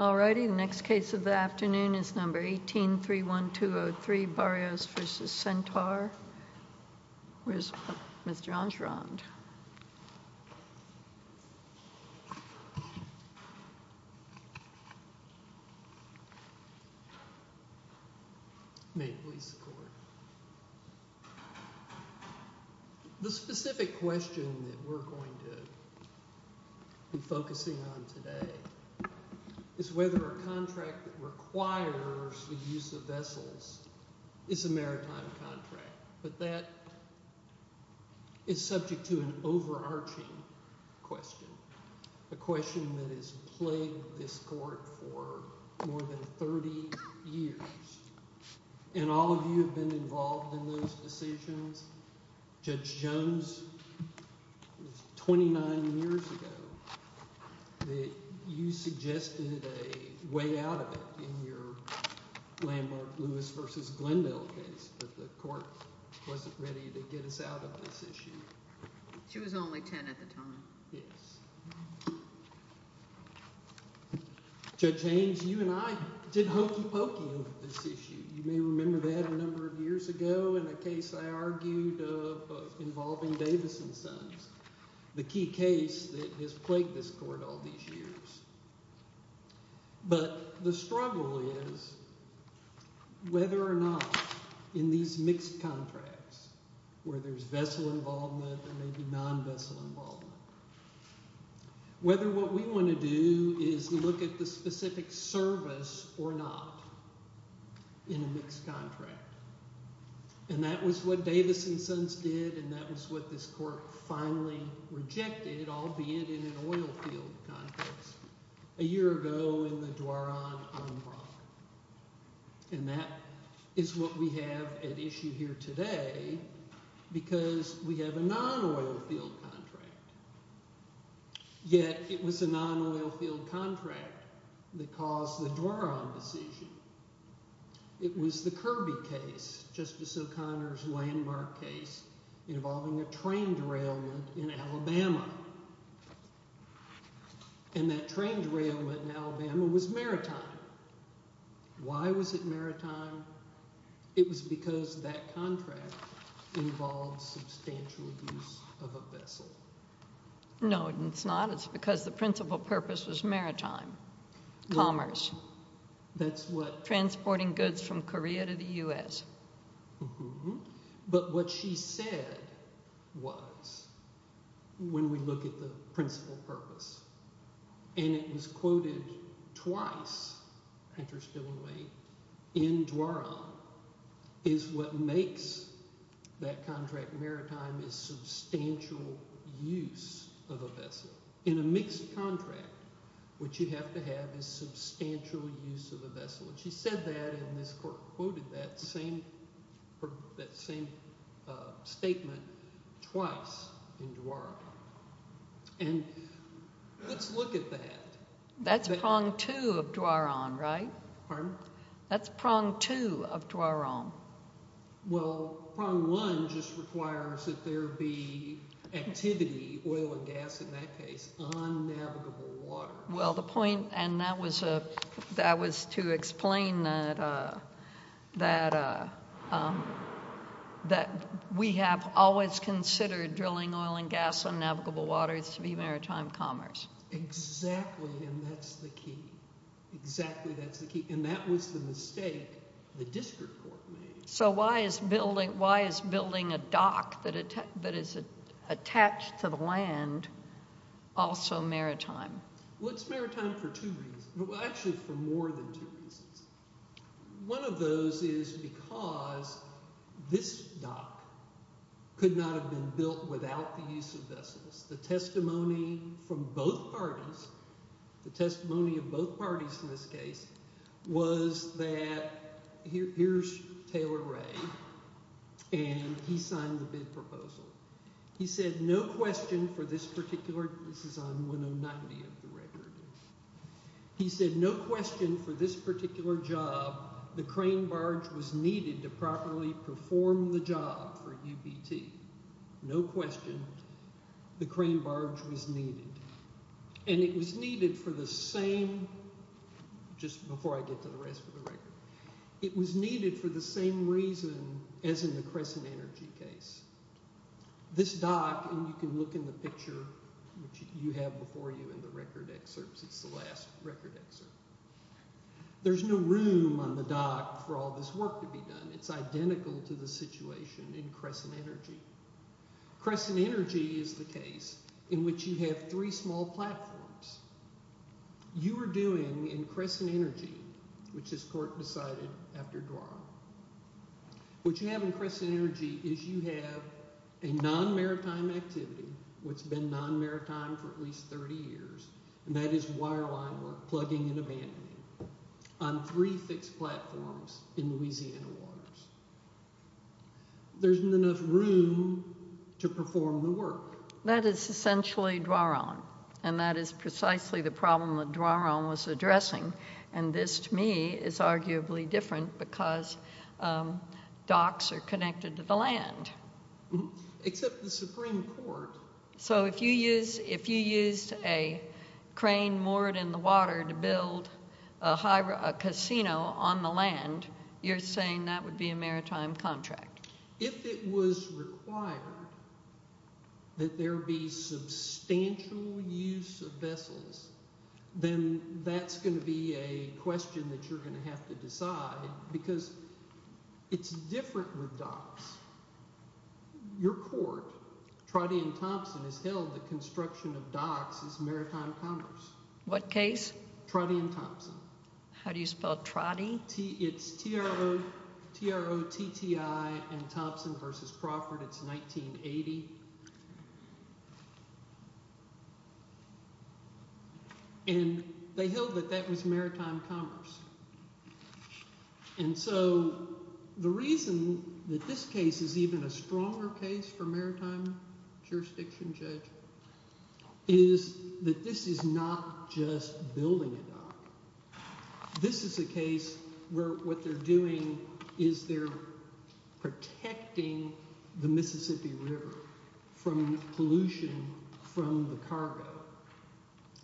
All righty, the next case of the afternoon is number 18, 31203, Barrios v. Centaur, where's John Schrond. May it please the court. The specific question that we're going to be focusing on today is whether a contract that requires the use of vessels is a maritime contract, but that is subject to an overarching question, a question that has plagued this court for more than 30 years. And all of you have been involved in those decisions. Judge Jones, it was 29 years ago that you suggested a way out of it in your Lambert-Lewis v. Glendale case, but the court wasn't ready to get us out of this issue. She was only 10 at the time. Yes. Judge Haynes, you and I did hokey pokey on this issue. You may remember that a number of years ago in a case I argued involving Davison Sons, the key case that has plagued this court all these years. But the struggle is whether or not in these mixed contracts, where there's vessel involvement and maybe non-vessel involvement, whether what we want to do is look at the specific service or not in a mixed contract. And that was what Davison Sons did, and that was what this court finally rejected, albeit in an oilfield context, a year ago in the Dwaran-Anbrock. And that is what we have at issue here today, because we have a non-oilfield contract, yet it was a non-oilfield contract that caused the Dwaran decision. It was the Kirby case, Justice O'Connor's landmark case, involving a train derailment in Alabama, and that train derailment in Alabama was maritime. Why was it maritime? It was because that contract involved substantial use of a vessel. No, it's not. It was because the principal purpose was maritime commerce, transporting goods from Korea to the U.S. But what she said was, when we look at the principal purpose, and it was quoted twice, interestingly, in Dwaran, is what makes that contract maritime is substantial use of a vessel. In a mixed contract, what you have to have is substantial use of a vessel. And she said that, and this court quoted that same statement twice in Dwaran. And let's look at that. That's prong two of Dwaran, right? Pardon? That's prong two of Dwaran. Well, prong one just requires that there be activity, oil and gas in that case, on navigable water. Well, the point, and that was to explain that we have always considered drilling oil and gas on navigable waters to be maritime commerce. Exactly, and that's the key. Exactly, that's the key. And that was the mistake the district court made. So why is building a dock that is attached to the land also maritime? Well, it's maritime for two reasons. Well, actually, for more than two reasons. One of those is because this dock could not have been built without the use of vessels. The testimony from both parties, the testimony of both parties in this case, was that, here's Taylor Ray, and he signed the bid proposal. He said, no question for this particular, this is on 1090 of the record. He said, no question for this particular job, the crane barge was needed to properly perform the job for UBT. No question, the crane barge was needed. And it was needed for the same, just before I get to the rest of the record, it was needed for the same reason as in the Crescent Energy case. This dock, and you can look in the picture which you have before you in the record excerpts, it's the last record excerpt. There's no room on the dock for all this work to be done. It's identical to the situation in Crescent Energy. Crescent Energy is the case in which you have three small platforms. You are doing, in Crescent Energy, which this court decided after Dwarf, what you have in Crescent Energy is you have a non-maritime activity, which has been non-maritime for at least 30 years, and that is wireline work, plugging and abandoning, on three fixed platforms in Louisiana waters. There isn't enough room to perform the work. That is essentially Dwaron, and that is precisely the problem that Dwaron was addressing. And this, to me, is arguably different because docks are connected to the land. Except the Supreme Court. So if you used a crane moored in the water to build a casino on the land, you're saying that would be a maritime contract. If it was required that there be substantial use of vessels, then that's going to be a question that you're going to have to decide because it's different with docks. Your court, Trotty and Thompson, has held that construction of docks is maritime commerce. What case? Trotty and Thompson. How do you spell Trotty? It's T-R-O-T-T-I and Thompson versus Crawford. It's 1980. And they held that that was maritime commerce. And so the reason that this case is even a stronger case for maritime jurisdiction, Judge, is that this is not just building a dock. This is a case where what they're doing is they're protecting the Mississippi River from pollution from the cargo.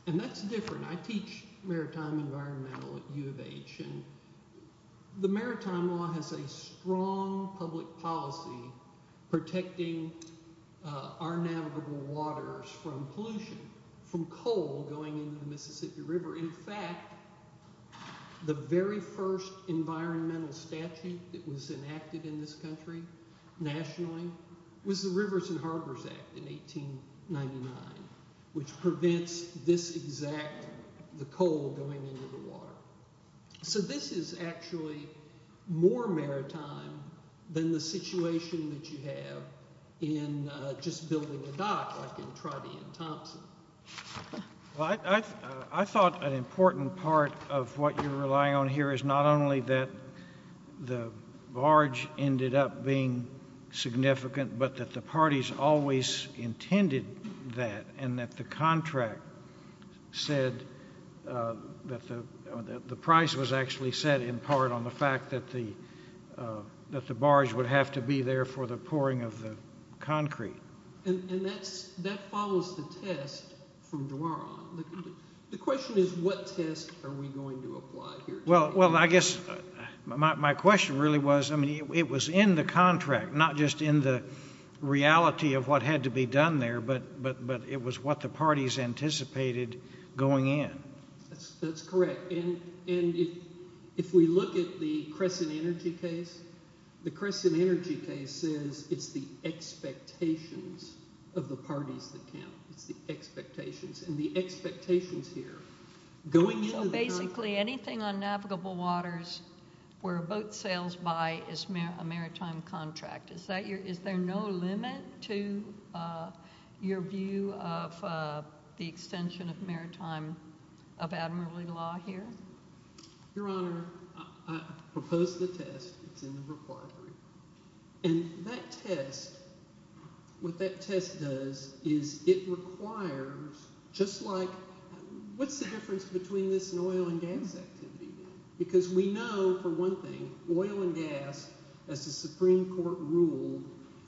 And that's different. I teach maritime environmental at U of H, and the maritime law has a strong public policy protecting our navigable waters from pollution, from coal going into the Mississippi River. In fact, the very first environmental statute that was enacted in this country nationally was the Rivers and Harbors Act in 1899, which prevents this exact, the coal going into the water. So this is actually more maritime than the situation that you have in just building a dock like in Trotty and Thompson. I thought an important part of what you're relying on here is not only that the barge ended up being significant, but that the parties always intended that and that the contract said that the price was actually set in part on the fact that the barge would have to be there for the pouring of the concrete. And that follows the test from Duara. The question is what test are we going to apply here? Well, I guess my question really was, I mean, it was in the contract, not just in the reality of what had to be done there, but it was what the parties anticipated going in. That's correct. And if we look at the Crescent Energy case, the Crescent Energy case says it's the expectations of the parties that count. It's the expectations. And the expectations here, going into the- Your Honor, I propose the test. It's in the required group. And that test, what that test does is it requires just like, what's the difference between this and oil and gas activity? Because we know, for one thing, oil and gas, as the Supreme Court ruled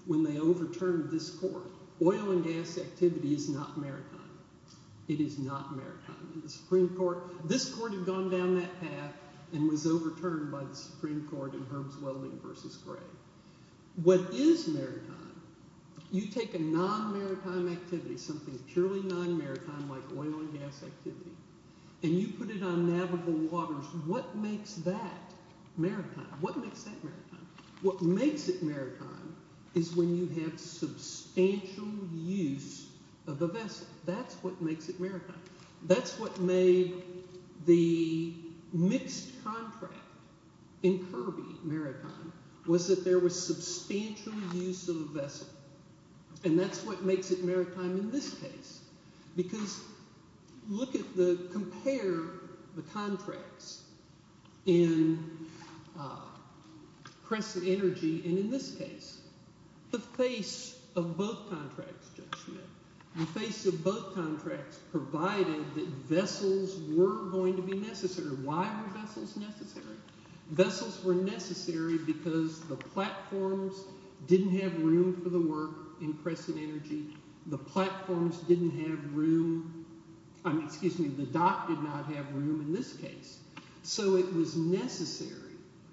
when they overturned this court, oil and gas activity is not maritime. It is not maritime. The Supreme Court, this court had gone down that path and was overturned by the Supreme Court in Herbs Welding v. Gray. What is maritime? You take a non-maritime activity, something purely non-maritime like oil and gas activity, and you put it on navigable waters. What makes that maritime? What makes that maritime? What makes it maritime is when you have substantial use of the vessel. That's what makes it maritime. That's what made the mixed contract in Kirby maritime was that there was substantial use of the vessel. And that's what makes it maritime in this case. Because look at the- compare the contracts in Crescent Energy and in this case. The face of both contracts provided that vessels were going to be necessary. Why were vessels necessary? Vessels were necessary because the platforms didn't have room for the work in Crescent Energy. The platforms didn't have room- excuse me, the dock did not have room in this case. So it was necessary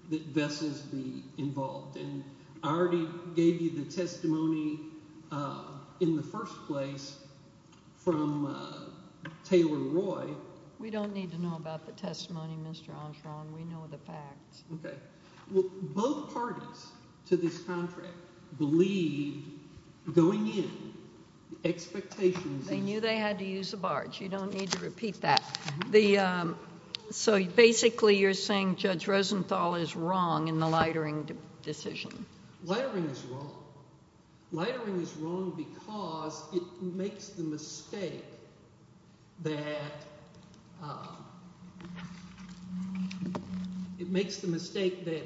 that vessels be involved. And I already gave you the testimony in the first place from Taylor Roy. We don't need to know about the testimony, Mr. Armstrong. We know the facts. Okay. Both parties to this contract believed going in, the expectations- They knew they had to use the barge. You don't need to repeat that. So basically you're saying Judge Rosenthal is wrong in the lightering decision. Lightering is wrong. Lightering is wrong because it makes the mistake that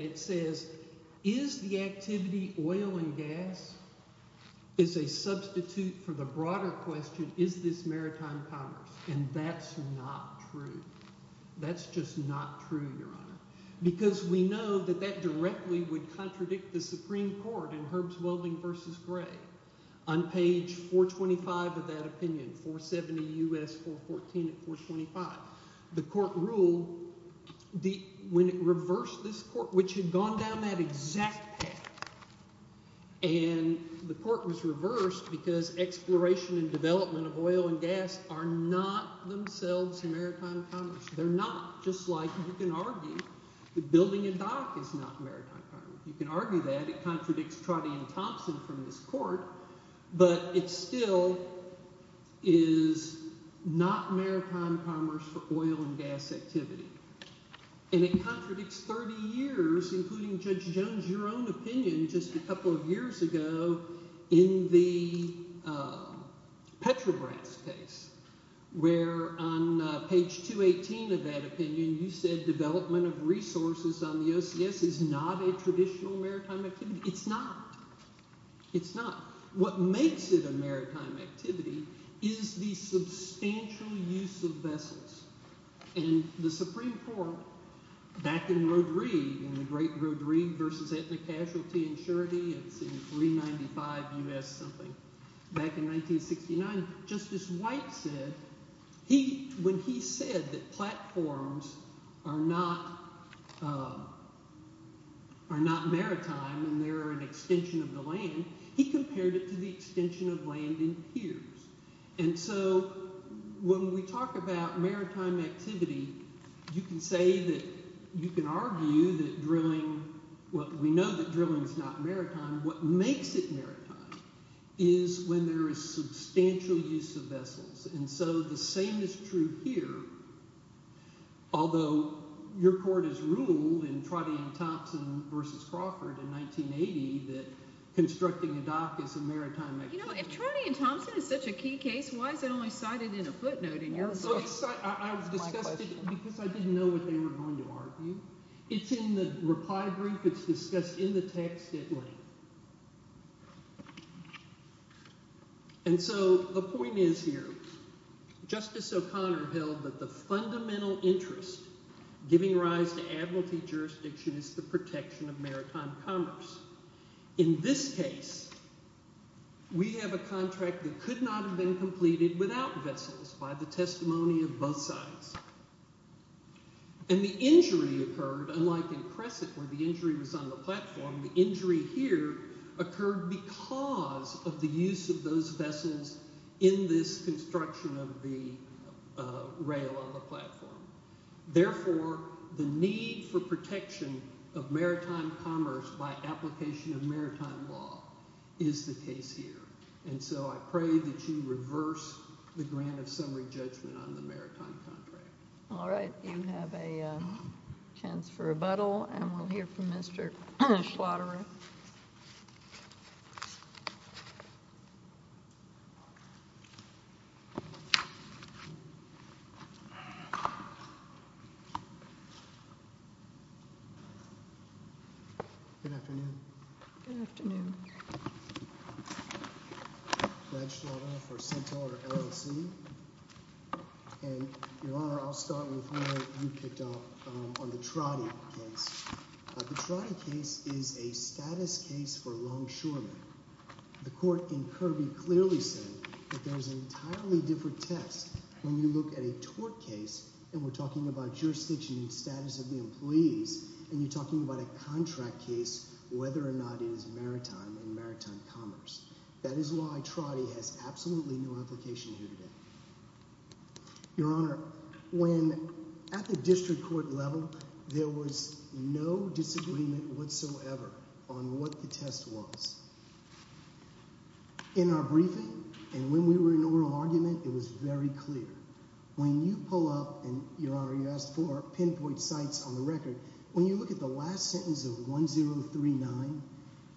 it says, is the activity oil and gas is a substitute for the broader question, is this maritime commerce? And that's not true. That's just not true, Your Honor. Because we know that that directly would contradict the Supreme Court in Herbs Welding v. Gray on page 425 of that opinion, 470 U.S. 414 and 425. The court ruled when it reversed this court, which had gone down that exact path, and the court was reversed because exploration and development of oil and gas are not themselves maritime commerce. They're not. Just like you can argue that building a dock is not maritime commerce. You can argue that. It contradicts Trotty and Thompson from this court. But it still is not maritime commerce for oil and gas activity. And it contradicts 30 years, including Judge Jones, your own opinion just a couple of years ago in the Petrobras case, where on page 218 of that opinion, you said development of resources on the OCS is not a traditional maritime activity. It's not. It's not. What makes it a maritime activity is the substantial use of vessels. And the Supreme Court, back in Rodrigue, in the great Rodrigue v. Ethnic Casualty and Surety in 395 U.S. something, back in 1969, Justice White said, when he said that platforms are not maritime and they're an extension of the land, he compared it to the extension of land in piers. And so when we talk about maritime activity, you can say that, you can argue that drilling, well, we know that drilling is not maritime. What makes it maritime is when there is substantial use of vessels. And so the same is true here. Although your court has ruled in Trotty and Thompson v. Crawford in 1980 that constructing a dock is a maritime activity. If Trotty and Thompson is such a key case, why is it only cited in a footnote in your case? Because I didn't know what they were going to argue. It's in the reply brief. It's discussed in the text at length. And so the point is here, Justice O'Connor held that the fundamental interest giving rise to admiralty jurisdiction is the protection of maritime commerce. In this case, we have a contract that could not have been completed without vessels by the testimony of both sides. And the injury occurred, unlike in Crescent where the injury was on the platform, the injury here occurred because of the use of those vessels Therefore, the need for protection of maritime commerce by application of maritime law is the case here. And so I pray that you reverse the grant of summary judgment on the maritime contract. All right. Do you have a chance for rebuttal? And we'll hear from Mr. Squattery. Good afternoon. Good afternoon. Glad you're all here for Centaur LLC. And, Your Honor, I'll start with what you picked up on the Trottie case. The Trottie case is a status case for longshoremen. The court in Kirby clearly said that there's an entirely different test You're talking about jurisdiction and status of the employees and you're talking about a contract case, whether or not it is maritime and maritime commerce. That is why Trottie has absolutely no application here today. Your Honor, when at the district court level, there was no disagreement whatsoever on what the test was. In our briefing, and when we were in oral argument, it was very clear. When you pull up and, Your Honor, you asked for pinpoint sites on the record, when you look at the last sentence of 1039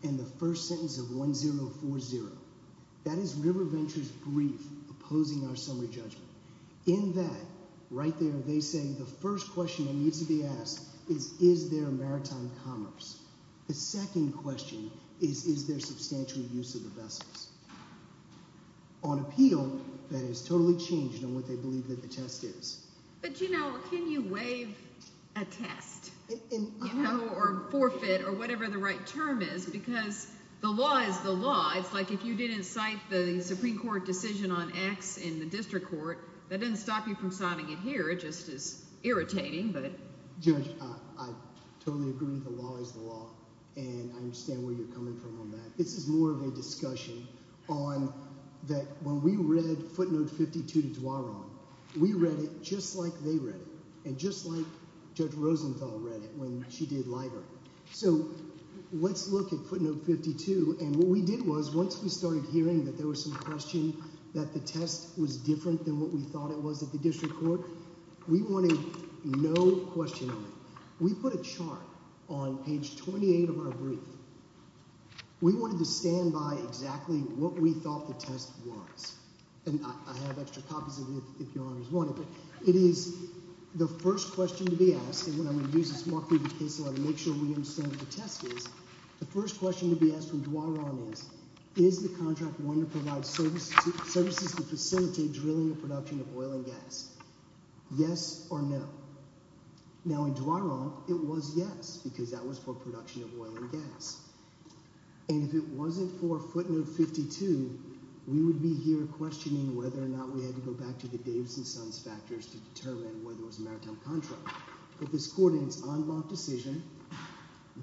and the first sentence of 1040, that is River Ventures' brief opposing our summary judgment. In that, right there, they say the first question that needs to be asked is, is there maritime commerce? The second question is, is there substantial use of the vessels? On appeal, that is totally changed on what they believe that the test is. But, you know, can you waive a test? Or forfeit, or whatever the right term is, because the law is the law. It's like if you didn't cite the Supreme Court decision on X in the district court, that doesn't stop you from citing it here. It just is irritating. Judge, I totally agree that the law is the law. And I understand where you're coming from on that. This is more of a discussion on that when we read footnote 52 to Duaron, we read it just like they read it. And just like Judge Rosenthal read it when she did Liger. So, let's look at footnote 52. And what we did was, once we started hearing that there was some question that the test was different than what we thought it was at the district court, we wanted no question on it. We put a chart on page 28 of our brief. We wanted to stand by exactly what we thought the test was. And I have extra copies of it, if your honors want it. It is the first question to be asked, and I'm going to use this mark through the case a lot to make sure we understand what the test is. The first question to be asked from Duaron is, is the contract going to provide services to facilitate drilling and production of oil and gas? Yes or no? Now, in Duaron, it was yes, because that was for production of oil and gas. And if it wasn't for footnote 52, we would be here questioning whether or not we had to go back to the Davis and Sons factors to determine whether it was a maritime contract. But this court in its en banc decision,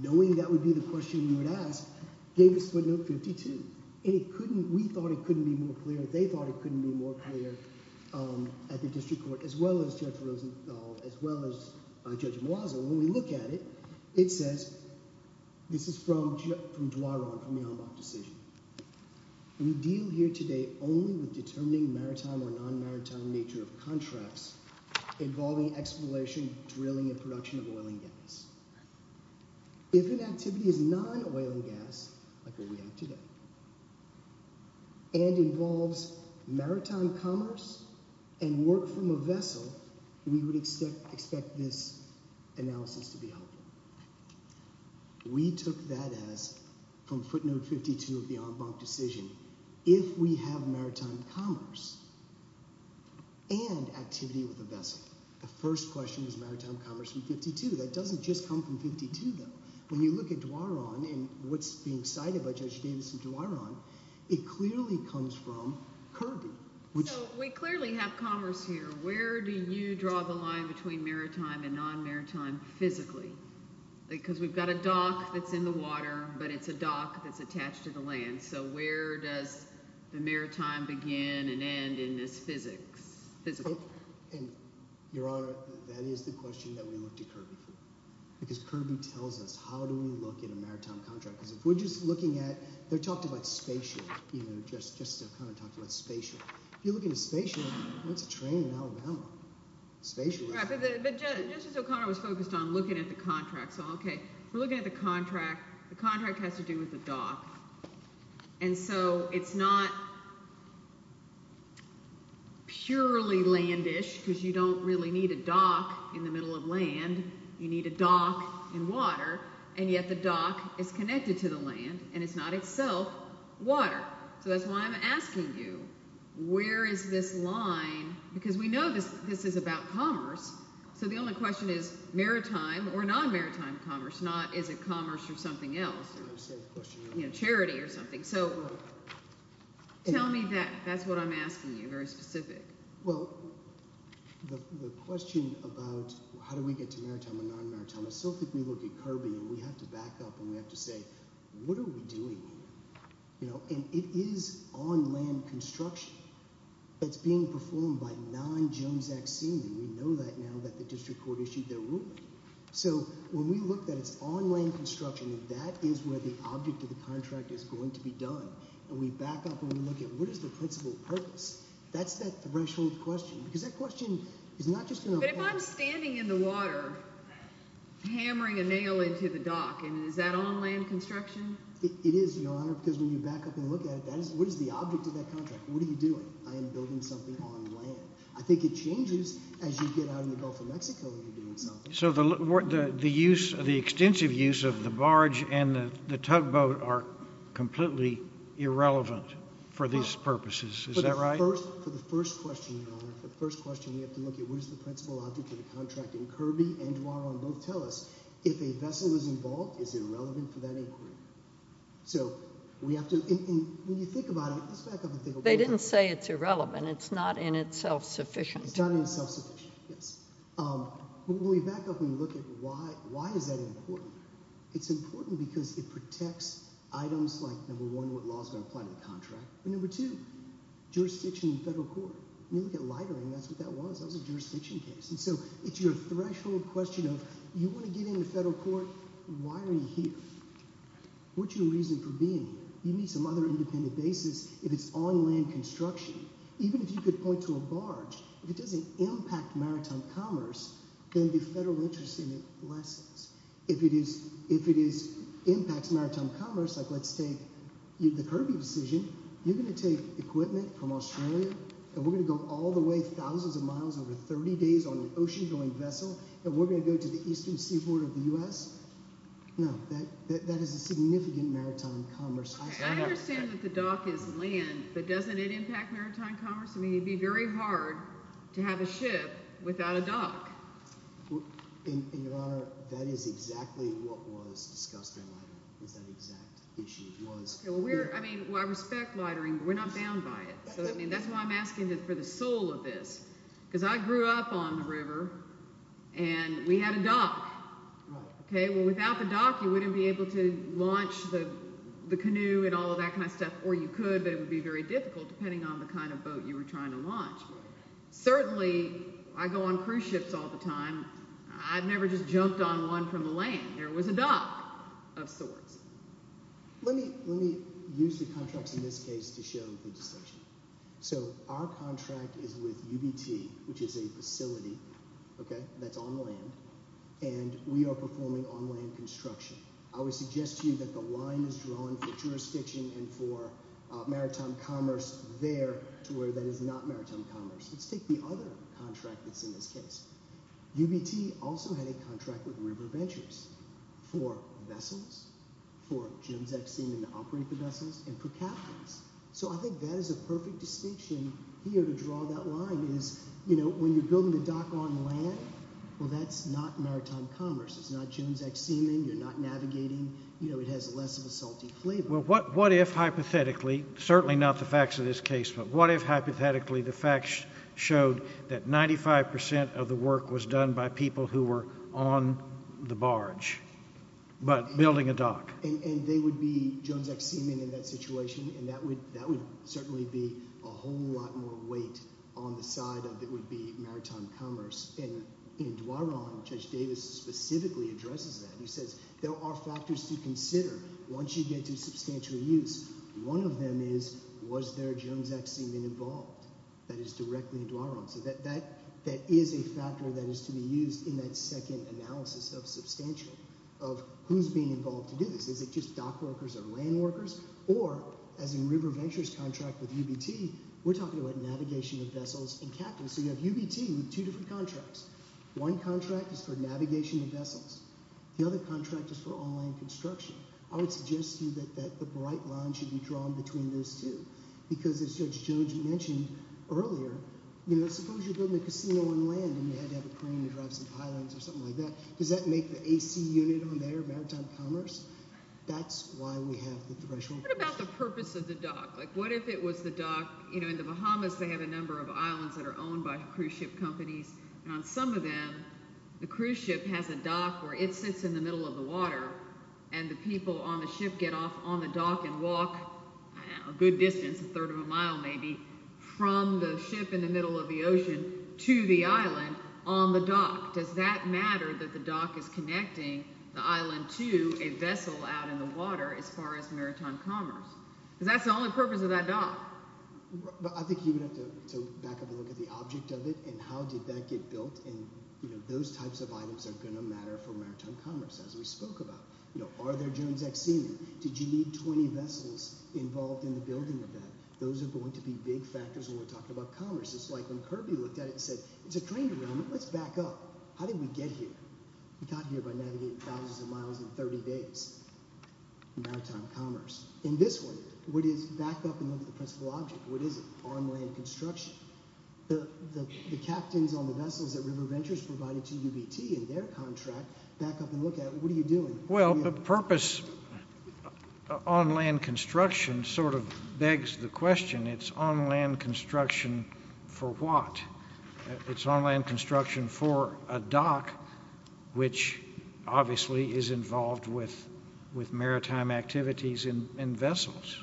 knowing that would be the question you would ask, gave us footnote 52. And we thought it couldn't be more clear, they thought it couldn't be more clear at the district court, as well as Judge Mwaza, when we look at it, it says, this is from Duaron, from the en banc decision, we deal here today only with determining maritime or non-maritime nature of contracts involving exploration, drilling, and production of oil and gas. If an activity is non-oil and gas, like what we have today, and involves maritime commerce and work from a vessel, we would expect this analysis to be helpful. We took that as, from footnote 52 of the en banc decision, if we have maritime commerce and activity with a vessel, the first question was maritime commerce from 52. That doesn't just come from 52, though. When you look at Duaron, and what's being cited by Judge Davis in Duaron, it clearly comes from Kirby. So we clearly have commerce here. Where do you draw the line between maritime and non-maritime physically? Because we've got a dock that's in the water, but it's a dock that's attached to the land. So where does the maritime begin and end in this physics? Your Honor, that is the question that we look to Kirby for. Because Kirby tells us, how do we look at a maritime contract? Because if we're just looking at, they're talking about spaceship, you know, Justice O'Connor talked about spaceship. If you're looking at a spaceship, that's a train in Alabama. But Justice O'Connor was focused on looking at the contract, so okay. We're looking at the contract. The contract has to do with the dock. And so it's not purely land-ish, because you don't really need a dock in the middle of land. You need a dock in water. And yet the dock is connected to the land, and it's not itself water. So that's why I'm asking you, where is this line? Because we know this is about commerce, so the only question is maritime or non-maritime commerce, not is it commerce or something else, charity or something. So tell me that. That's what I'm asking you, very specific. Well, the question about how do we get to maritime or non-maritime, I still think we look at curbing, and we have to back up, and we have to say, what are we doing here? You know, and it is on-land construction. It's being performed by non-Jones Act seamen. We know that now that the district court issued their ruling. So when we look that it's on-land construction, that is where the object of the contract is going to be done. And we back up and we look at what is the principal purpose? That's that threshold question. Because that question is not just going to... But if I'm standing in the water, hammering a nail into the dock, and is that on-land construction? It is, Your Honor, because when you back up and look at it, what is the object of that contract? What are you doing? I am building something on land. I think it changes as you get out in the Gulf of Mexico and you're doing something. So the extensive use of the barge and the tugboat are completely irrelevant for these purposes, is that right? For the first question, Your Honor, the first question we have to look at, what is the principal object of the contract? And Kirby and Duaron both tell us, if a vessel is involved, is it relevant for that inquiry? So we have to... When you think about it... They didn't say it's irrelevant. It's not in itself sufficient. It's not in itself sufficient, yes. When we back up and look at why is that important? It's important because it protects items like, number one, what law is going to apply to the contract, and number two, jurisdiction in federal court. When you look at lightering, that's what that was. That was a jurisdiction case. And so it's your threshold question of, you want to get into federal court, why are you here? What's your reason for being here? You need some other independent basis if it's on land construction. Even if you could point to a barge, if it doesn't impact maritime commerce, then the federal interest in it lessens. If it impacts maritime commerce, like let's take the Kirby decision, you're going to take equipment from Australia and we're going to go all the way, thousands of miles, over 30 days, on an ocean-going vessel, and we're going to go to the eastern seaboard of the U.S.? No, that is a significant maritime commerce... I understand that the dock is land, but doesn't it impact maritime commerce? I mean, it would be very hard to have a ship without a dock. And, Your Honor, that is exactly what was discussed in the letter. That exact issue was... I mean, I respect lightering, but we're not bound by it. That's why I'm asking for the soul of this. Because I grew up on the river, and we had a dock. Without the dock, you wouldn't be able to launch the canoe and all of that kind of stuff. Or you could, but it would be very difficult depending on the kind of boat you were trying to launch. Certainly, I go on cruise ships all the time. I've never just jumped on one from the land. There was a dock, of sorts. Let me use the contracts in this case to show the distinction. Our contract is with UBT, which is a facility that's on land, and we are performing on-land construction. I would suggest to you that the line is drawn for jurisdiction and for maritime commerce there to where that is not maritime commerce. Let's take the other contract that's in this case. UBT also had a contract with River Ventures for vessels. For Jones X Seaman to operate the vessels and for captains. I think that is a perfect distinction here to draw that line. When you're building a dock on land, that's not maritime commerce. It's not Jones X Seaman. You're not navigating. It has less of a salty flavor. Certainly not the facts of this case, but what if hypothetically the facts showed that 95% of the work was done by people who were on the barge, but building a dock. And they would be Jones X Seaman in that situation, and that would certainly be a whole lot more weight on the side of what would be maritime commerce. In Dwaron, Judge Davis specifically addresses that. He says, there are factors to consider once you get to substantial use. One of them is, was there Jones X Seaman involved? That is directly in Dwaron. That is a factor that is to be used in that second analysis of substantial, of who's being involved to do this. Is it just dock workers or land workers? Or, as in River Ventures' contract with UBT, we're talking about navigation of vessels and captains. So you have UBT with two different contracts. One contract is for navigation of vessels. The other contract is for all land construction. I would suggest to you that the bright line should be drawn between those two. Because as Judge Jones mentioned earlier, suppose you're building a casino on land and you had to have a crane to drive some islands or something like that. Does that make the AC unit on there, maritime commerce? That's why we have the threshold. What about the purpose of the dock? What if it was the dock, you know, in the Bahamas they have a number of islands that are owned by cruise ship companies and on some of them the cruise ship has a dock where it sits in the middle of the water and the people on the ship get off on the dock and walk a good distance, a third of a mile maybe from the ship in the middle of the ocean to the island on the dock. Does that matter that the dock is connecting the island to a vessel out in the water as far as maritime commerce? Because that's the only purpose of that dock. I think you would have to back up and look at the object of it and how did that get built and, you know, those types of items are going to matter for maritime commerce as we spoke about. You know, are there Jones Act seamen? Did you need 20 vessels involved in the building of that? Those are going to be big factors when we're talking about commerce. It's like when Kirby looked at it and said it's a train derailment, let's back up. How did we get here? We got here by navigating thousands of miles in 30 days in maritime commerce. In this one, what is, back up and look at the principal object, what is it? On land construction. The captains on the vessels that River Ventures provided to UBT in their contract, back up and look at it, what are you doing? Well, the purpose on land construction sort of begs the question it's on land construction for what? It's on land construction for a dock which obviously is involved with maritime activities and vessels.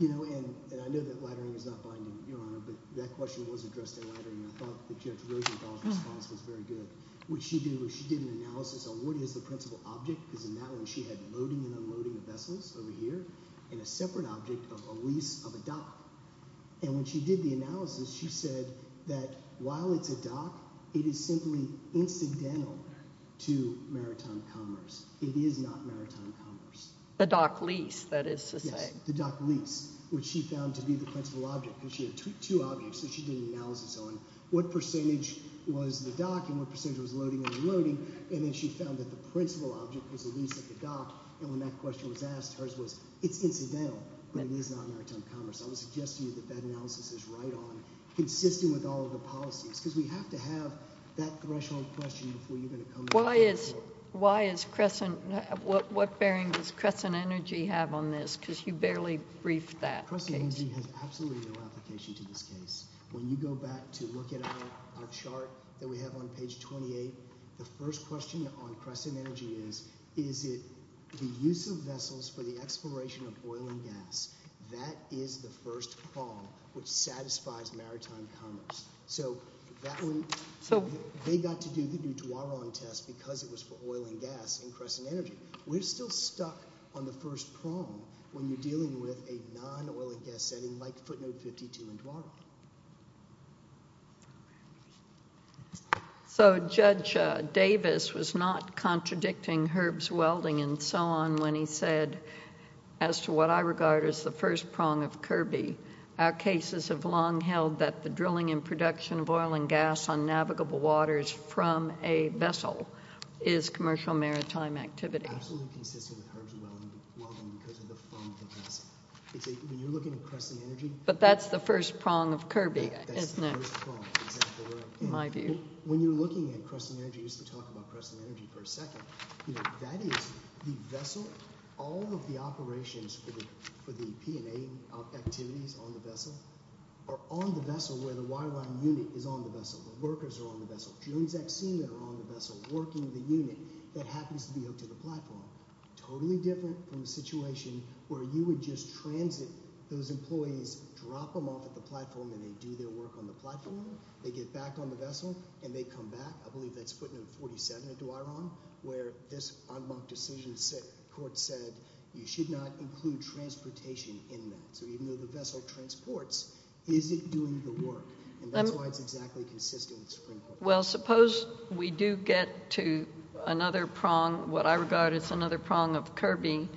I know that laddering is not binding, Your Honor, but that question was addressed in laddering and I thought that Judge Rosenthal's response was very good. What she did was she did an analysis on what is the principal object because in that one she had loading and unloading of vessels over here and a separate object of a lease of a dock and when she did the analysis, she said that while it's a dock it is simply incidental to maritime commerce. It is not maritime commerce. The dock lease, that is to say. The dock lease, which she found to be the principal object because she had two objects and she did an analysis on what percentage was the dock and what percentage was loading and unloading and then she found that the principal object was a lease at the dock and when that question was asked, hers was it's incidental, but it is not maritime commerce. I would suggest to you that that analysis is right on, consistent with all of the policies because we have to have that threshold question before you're going to come to the court. Why is Crescent what bearing does Crescent Energy have on this because you barely briefed that case. Crescent Energy has absolutely no application to this case. When you go back to look at our chart that we have on page 28 the first question on Crescent Energy is, is it the use of vessels for the exploration of oil and gas, that is the first prong which satisfies maritime commerce. So that one, they got to do the Duaron test because it was for oil and gas in Crescent Energy. We're still stuck on the first prong when you're dealing with a non-oil and gas setting like footnote 52 in Duaron. So Judge Davis was not contradicting Herb's Welding and so on when he said as to what I regard as the first prong of Kirby, our cases have long held that the drilling and production of oil and gas on navigable waters from a vessel is commercial maritime activity. But that's the first prong of Kirby, isn't it? My view. When you're looking at Crescent Energy, we used to talk about Crescent Energy for a second, you know, that is the vessel, all of the operations for the P&A activities on the vessel are on the vessel where the wireline unit is on the vessel. The workers are on the vessel. Julian Zaksina are on the vessel working the unit that happens to be hooked to the platform. Totally different from a situation where you would just transit those employees, drop them off at the platform and they do their work on the platform, they get back on the vessel and they come back, I believe that's 47 at Dwyeron, where this decision, the court said you should not include transportation in that. So even though the vessel transports, is it doing the work? And that's why it's exactly consistent with the Supreme Court. Well, suppose we do get to another prong, what I regard as another prong of Kirby,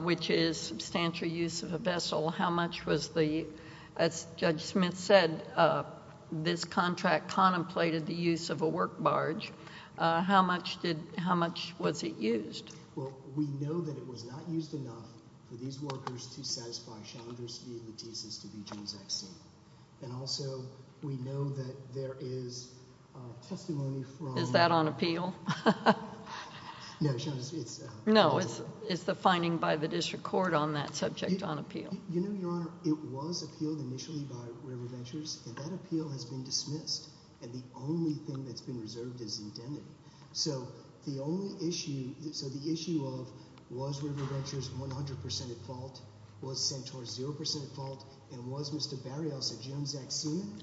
which is substantial use of a vessel. How much was the, as Judge Smith said, this contract contemplated the use of a work barge, how much was it used? Well, we know that it was not used enough for these workers to satisfy Chandra Speed Lattice as to be James Zaksina. And also, we know that there is testimony from... Is that on appeal? No, it's... No, it's the finding by the district court on that subject on appeal. You know, Your Honor, it was appealed initially by River Ventures, and that appeal has been dismissed. And the only thing that's been reserved is indemnity. So, the only issue... So the issue of was River Ventures 100% at fault? Was Centaur 0% at fault? And was Mr. Barrios a James Zaksina?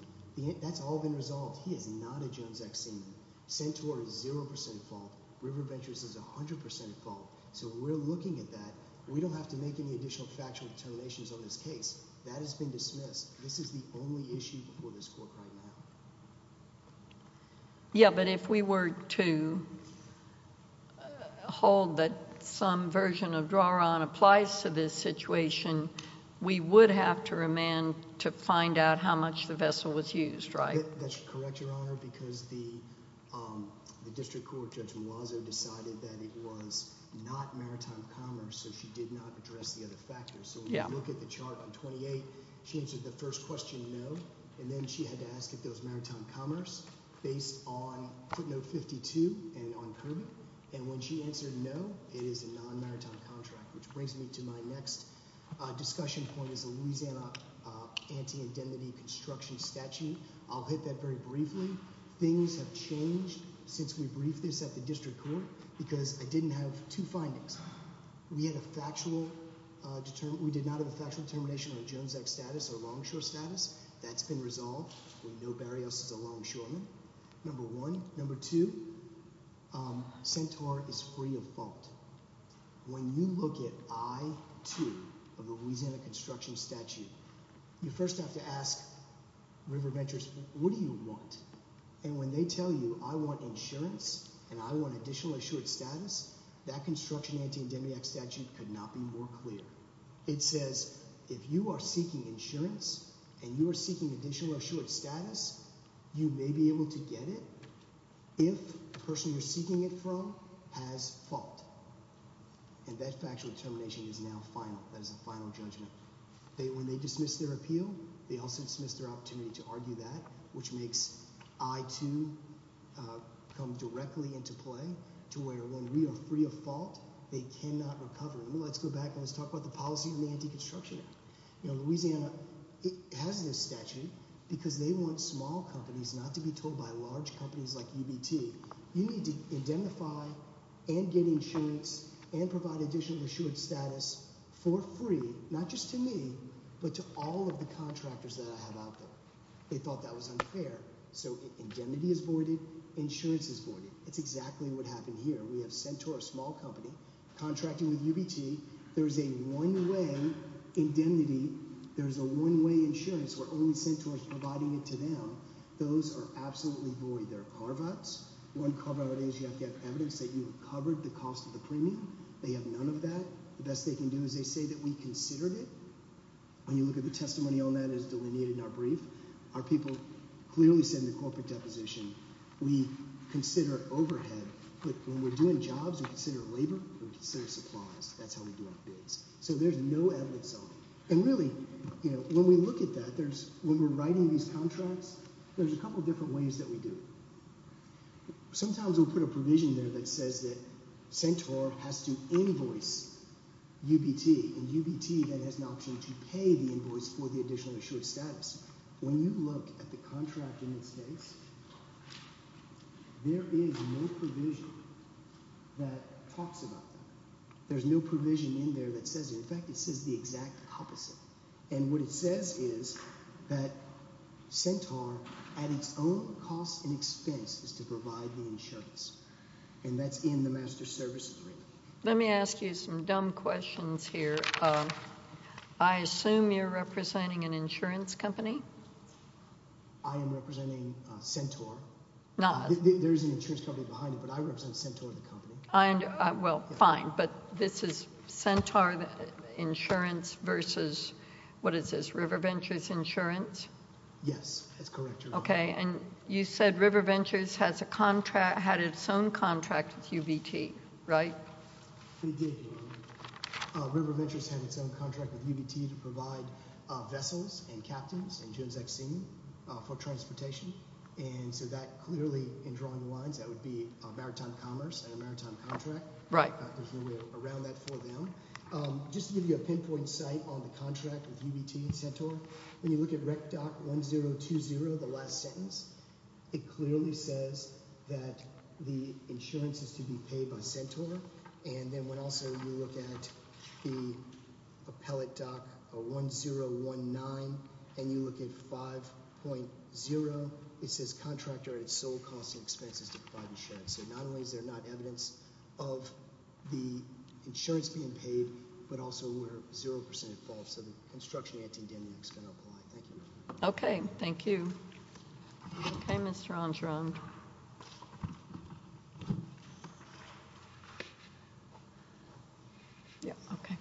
That's all been resolved. He is not a James Zaksina. Centaur is 0% at fault. River Ventures is 100% at fault. So we're looking at that. We don't have to make any additional factual alternations on this case. That has been dismissed. This is the only issue before this court right now. Yeah, but if we were to hold that some version of draw-on applies to this situation, we would have to remand to find out how much the vessel was used, right? That's correct, Your Honor, because the district court, Judge Malazzo, decided that it was not maritime commerce, so she did not address the other factors. So when you look at the chart on 28, she answered the first question, no. And then she had to ask if it was maritime commerce based on footnote 52 and on Kirby. And when she answered no, it is a non-maritime contract, which brings me to my next discussion point, is the Louisiana anti- indemnity construction statute. I'll hit that very briefly. Things have changed since we briefed this at the district court, because I didn't have two findings. We had a factual determination. We did not have a factual determination on Jones Act status or longshore status. That's been resolved. We know Barrios is a longshoreman. Number one. Number two, Centaur is free of fault. When you look at I-2 of the Louisiana construction statute, you first have to ask River Ventures, what do you want? And when they tell you, I want insurance and I want additional assured status, that construction anti-indemnity statute could not be more clear. It says, if you are seeking insurance and you are seeking additional assured status, you may be able to get it if the person you're seeking it from has fault. And that factual determination is now final. That is a final judgment. When they dismiss their appeal, they also dismiss their opportunity to argue that, which makes I-2 come directly into play to where when we are free of fault, they cannot recover. Let's go back and let's talk about the policy of the anti-construction act. Louisiana has this statute because they want small companies not to be told by large companies like UBT, you need to indemnify and get insurance and provide additional assured status for free, not just to me, but to all of the contractors that I have out there. They thought that was voided. Insurance is voided. It's exactly what happened here. We have Centaur, a small company, contracting with UBT. There is a one-way indemnity. There is a one-way insurance where only Centaur is providing it to them. Those are absolutely void. There are carve-outs. One carve-out is you have to have evidence that you have covered the cost of the premium. They have none of that. The best they can do is they say that we considered it. When you look at the testimony on that, it is delineated in our brief. Our people clearly said in the corporate deposition we consider overhead, but when we're doing jobs, we consider labor, we consider supplies. That's how we do our bids. So there's no outlets on it. And really, when we look at that, when we're writing these contracts, there's a couple different ways that we do it. Sometimes we'll put a provision there that says that Centaur has to invoice UBT, and UBT then has an option to pay the invoice for the additional assured status. When you look at the contract in its case, there is no provision that talks about that. There's no provision in there that says it. In fact, it says the exact opposite. And what it says is that Centaur, at its own cost and expense, is to provide the insurance. And that's in the master service agreement. Let me ask you some dumb questions here. I assume you're representing an insurance company? I am representing Centaur. There is an insurance company behind it, but I represent Centaur the company. Well, fine, but this is Centaur Insurance versus, what is this, RiverVentures Insurance? Yes. That's correct. Okay, and you said RiverVentures had its own contract with UBT, right? RiverVentures had its own contract with UBT to provide vessels and captains for transportation. And so that clearly, in drawing the lines, that would be a maritime commerce and a maritime contract. There's no way around that for them. Just to give you a pinpoint site on the contract with UBT and Centaur, when you look at RECDOT 1020, the last sentence, it clearly says that the insurance is to be paid by Centaur. And then when also you look at the appellate doc 1019, and you look at 5.0, it says contractor at its sole cost and expenses to provide insurance. So not only is there not evidence of the insurance being paid, but also where 0% is false. So the construction antediluvian is going to apply. Thank you. Okay, thank you. Okay, Mr. Angereau. Yeah, okay.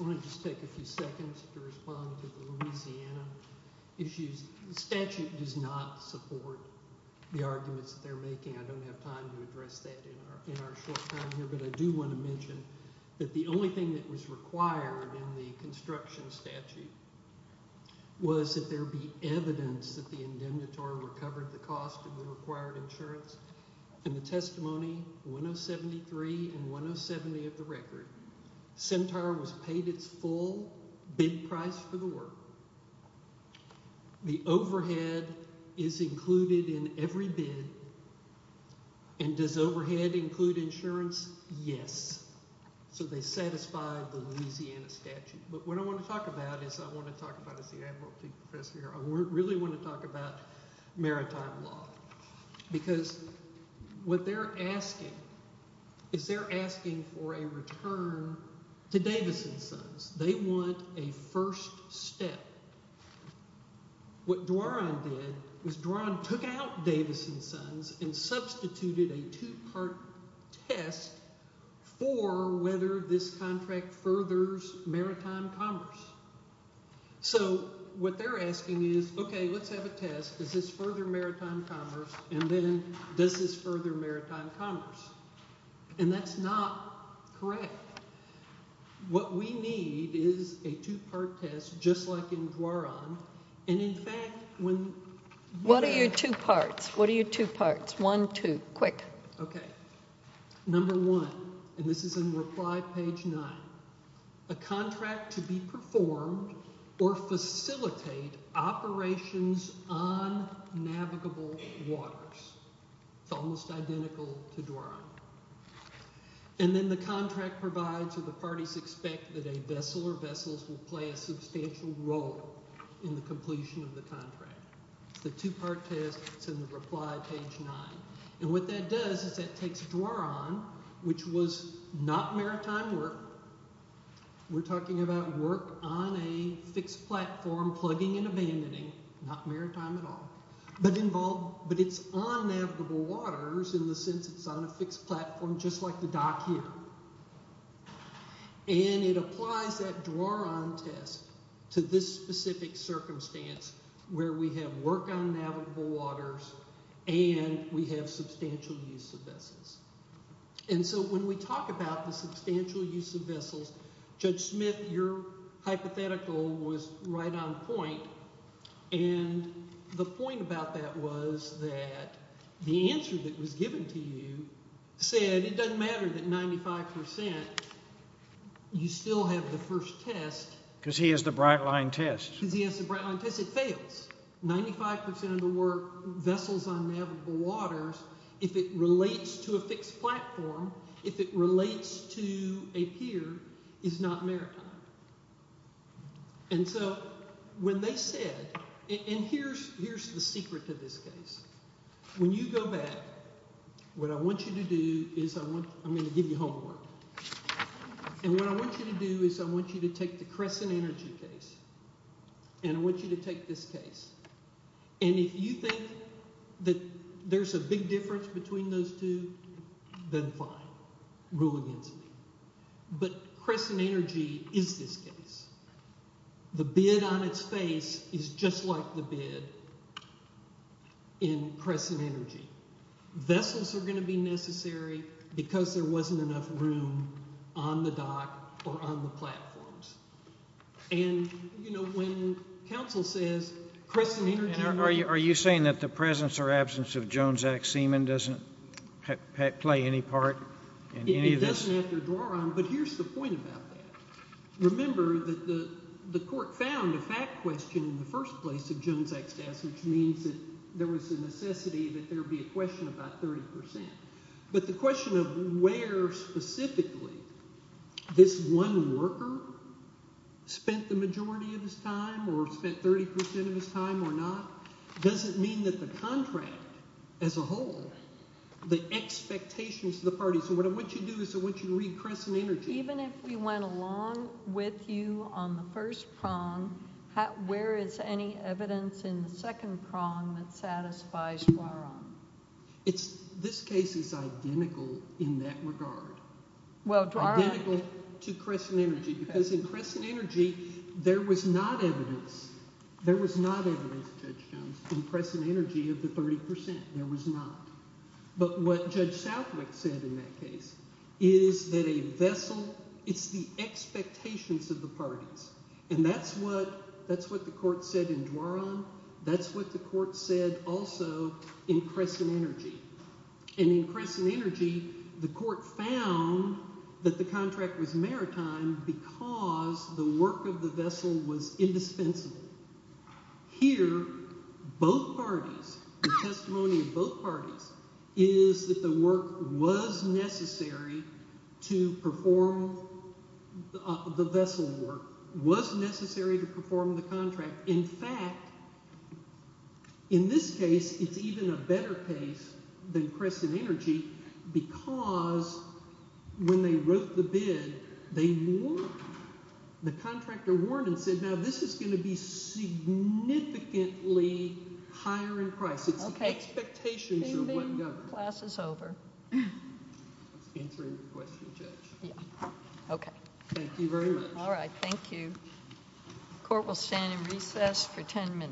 I want to just take a few seconds to respond to the Louisiana issues. The statute does not support the arguments that they're making. I don't have time to address that in our short time here, but I do want to mention that the only thing that was required in the construction statute was that there be evidence that the indemnitary recovered the cost of the required insurance. In the testimony 1073 and 1070 of the record, Centaur was paid its full bid price for the work. The overhead is included in every bid. And does overhead include insurance? Yes. So they satisfied the Louisiana statute. But what I want to talk about is I want to talk about, as the Advocacy Professor here, I really want to talk about maritime law. Because what they're asking is they're asking for a return to Davison Sons. They want a first step. What Duaron did was Duaron took out Davison Sons and substituted a two-part test for whether this contract furthers maritime commerce. So what they're asking is, okay, let's have a test. Does this further maritime commerce? And then, does this further maritime commerce? And that's not correct. What we need is a two-part test, just like in Duaron. And in fact, when... What are your two parts? What are your two parts? One, two. Quick. Okay. Number one, and this is in reply page nine, a contract to be performed or facilitate operations on navigable waters. It's almost identical to Duaron. And then the contract provides that the parties expect that a vessel or vessels will play a substantial role in the completion of the contract. The two-part test, it's in the reply page nine. And what that does is that takes Duaron, which was not maritime work. We're talking about work on a fixed platform, plugging and abandoning, not maritime at all, but involved... But it's on navigable waters in the sense it's on a fixed platform, just like the dock here. And it applies that Duaron test to this specific circumstance where we have work on navigable waters and we have substantial use of vessels. And so when we talk about the substantial use of vessels, Judge Smith, your hypothetical was right on point. And the point about that was that the answer that was given to you said it doesn't matter that 95%, you still have the first test. Because he has the brightline test. Because he has the brightline test. It fails. 95% of the work, vessels on navigable waters, if it relates to a fixed platform, if it relates to a pier, is not maritime. And so, when they said... And here's the secret to this case. When you go back, what I want you to do is... I'm going to give you homework. And what I want you to do is I want you to take the Crescent Energy case. And I want you to take this case. And if you think that there's a big difference between those two, then fine. Rule against me. But Crescent Energy is this case. The bid on its face is just like the bid in Crescent Energy. Vessels are going to be necessary because there wasn't enough room on the dock or on the platforms. And, you know, when counsel says Crescent Energy... Are you saying that the presence or absence of Jones Act seaman doesn't play any part in any of this? It doesn't have to draw on. But here's the point about that. Remember that the court found a fact question in the first place of Jones Act staffs, which means that there was a necessity that there be a question about 30%. But the question of where specifically this one worker spent the majority of his time or spent 30% of his time or not doesn't mean that the contract as a whole, the expectations of the parties... So what I want you to do is I want you to read Crescent Energy. Even if we went along with you on the first prong, where is any evidence in the second prong that satisfies Dwaron? This case is identical in that regard. Identical to Crescent Energy because in Crescent Energy there was not evidence. There was not evidence, Judge Jones, in Crescent Energy of the 30%. There was not. But what Judge Southwick said in that case is that a vessel, it's the expectations of the parties. And that's what the court said in Dwaron. That's what the court said also in Crescent Energy. And in Crescent Energy the court found that the contract was maritime because the work of the vessel was indispensable. Here, both parties, the testimony of both parties is that the work was necessary to perform the vessel work, was necessary to perform the contract. In fact, in this case it's even a better case than Crescent Energy because when they wrote the bid, they warned, the contractor warned and said, now this is going to be significantly higher in price. It's the expectations of what governs. Thank you very much. Thank you. Court will stand in recess for 10 minutes.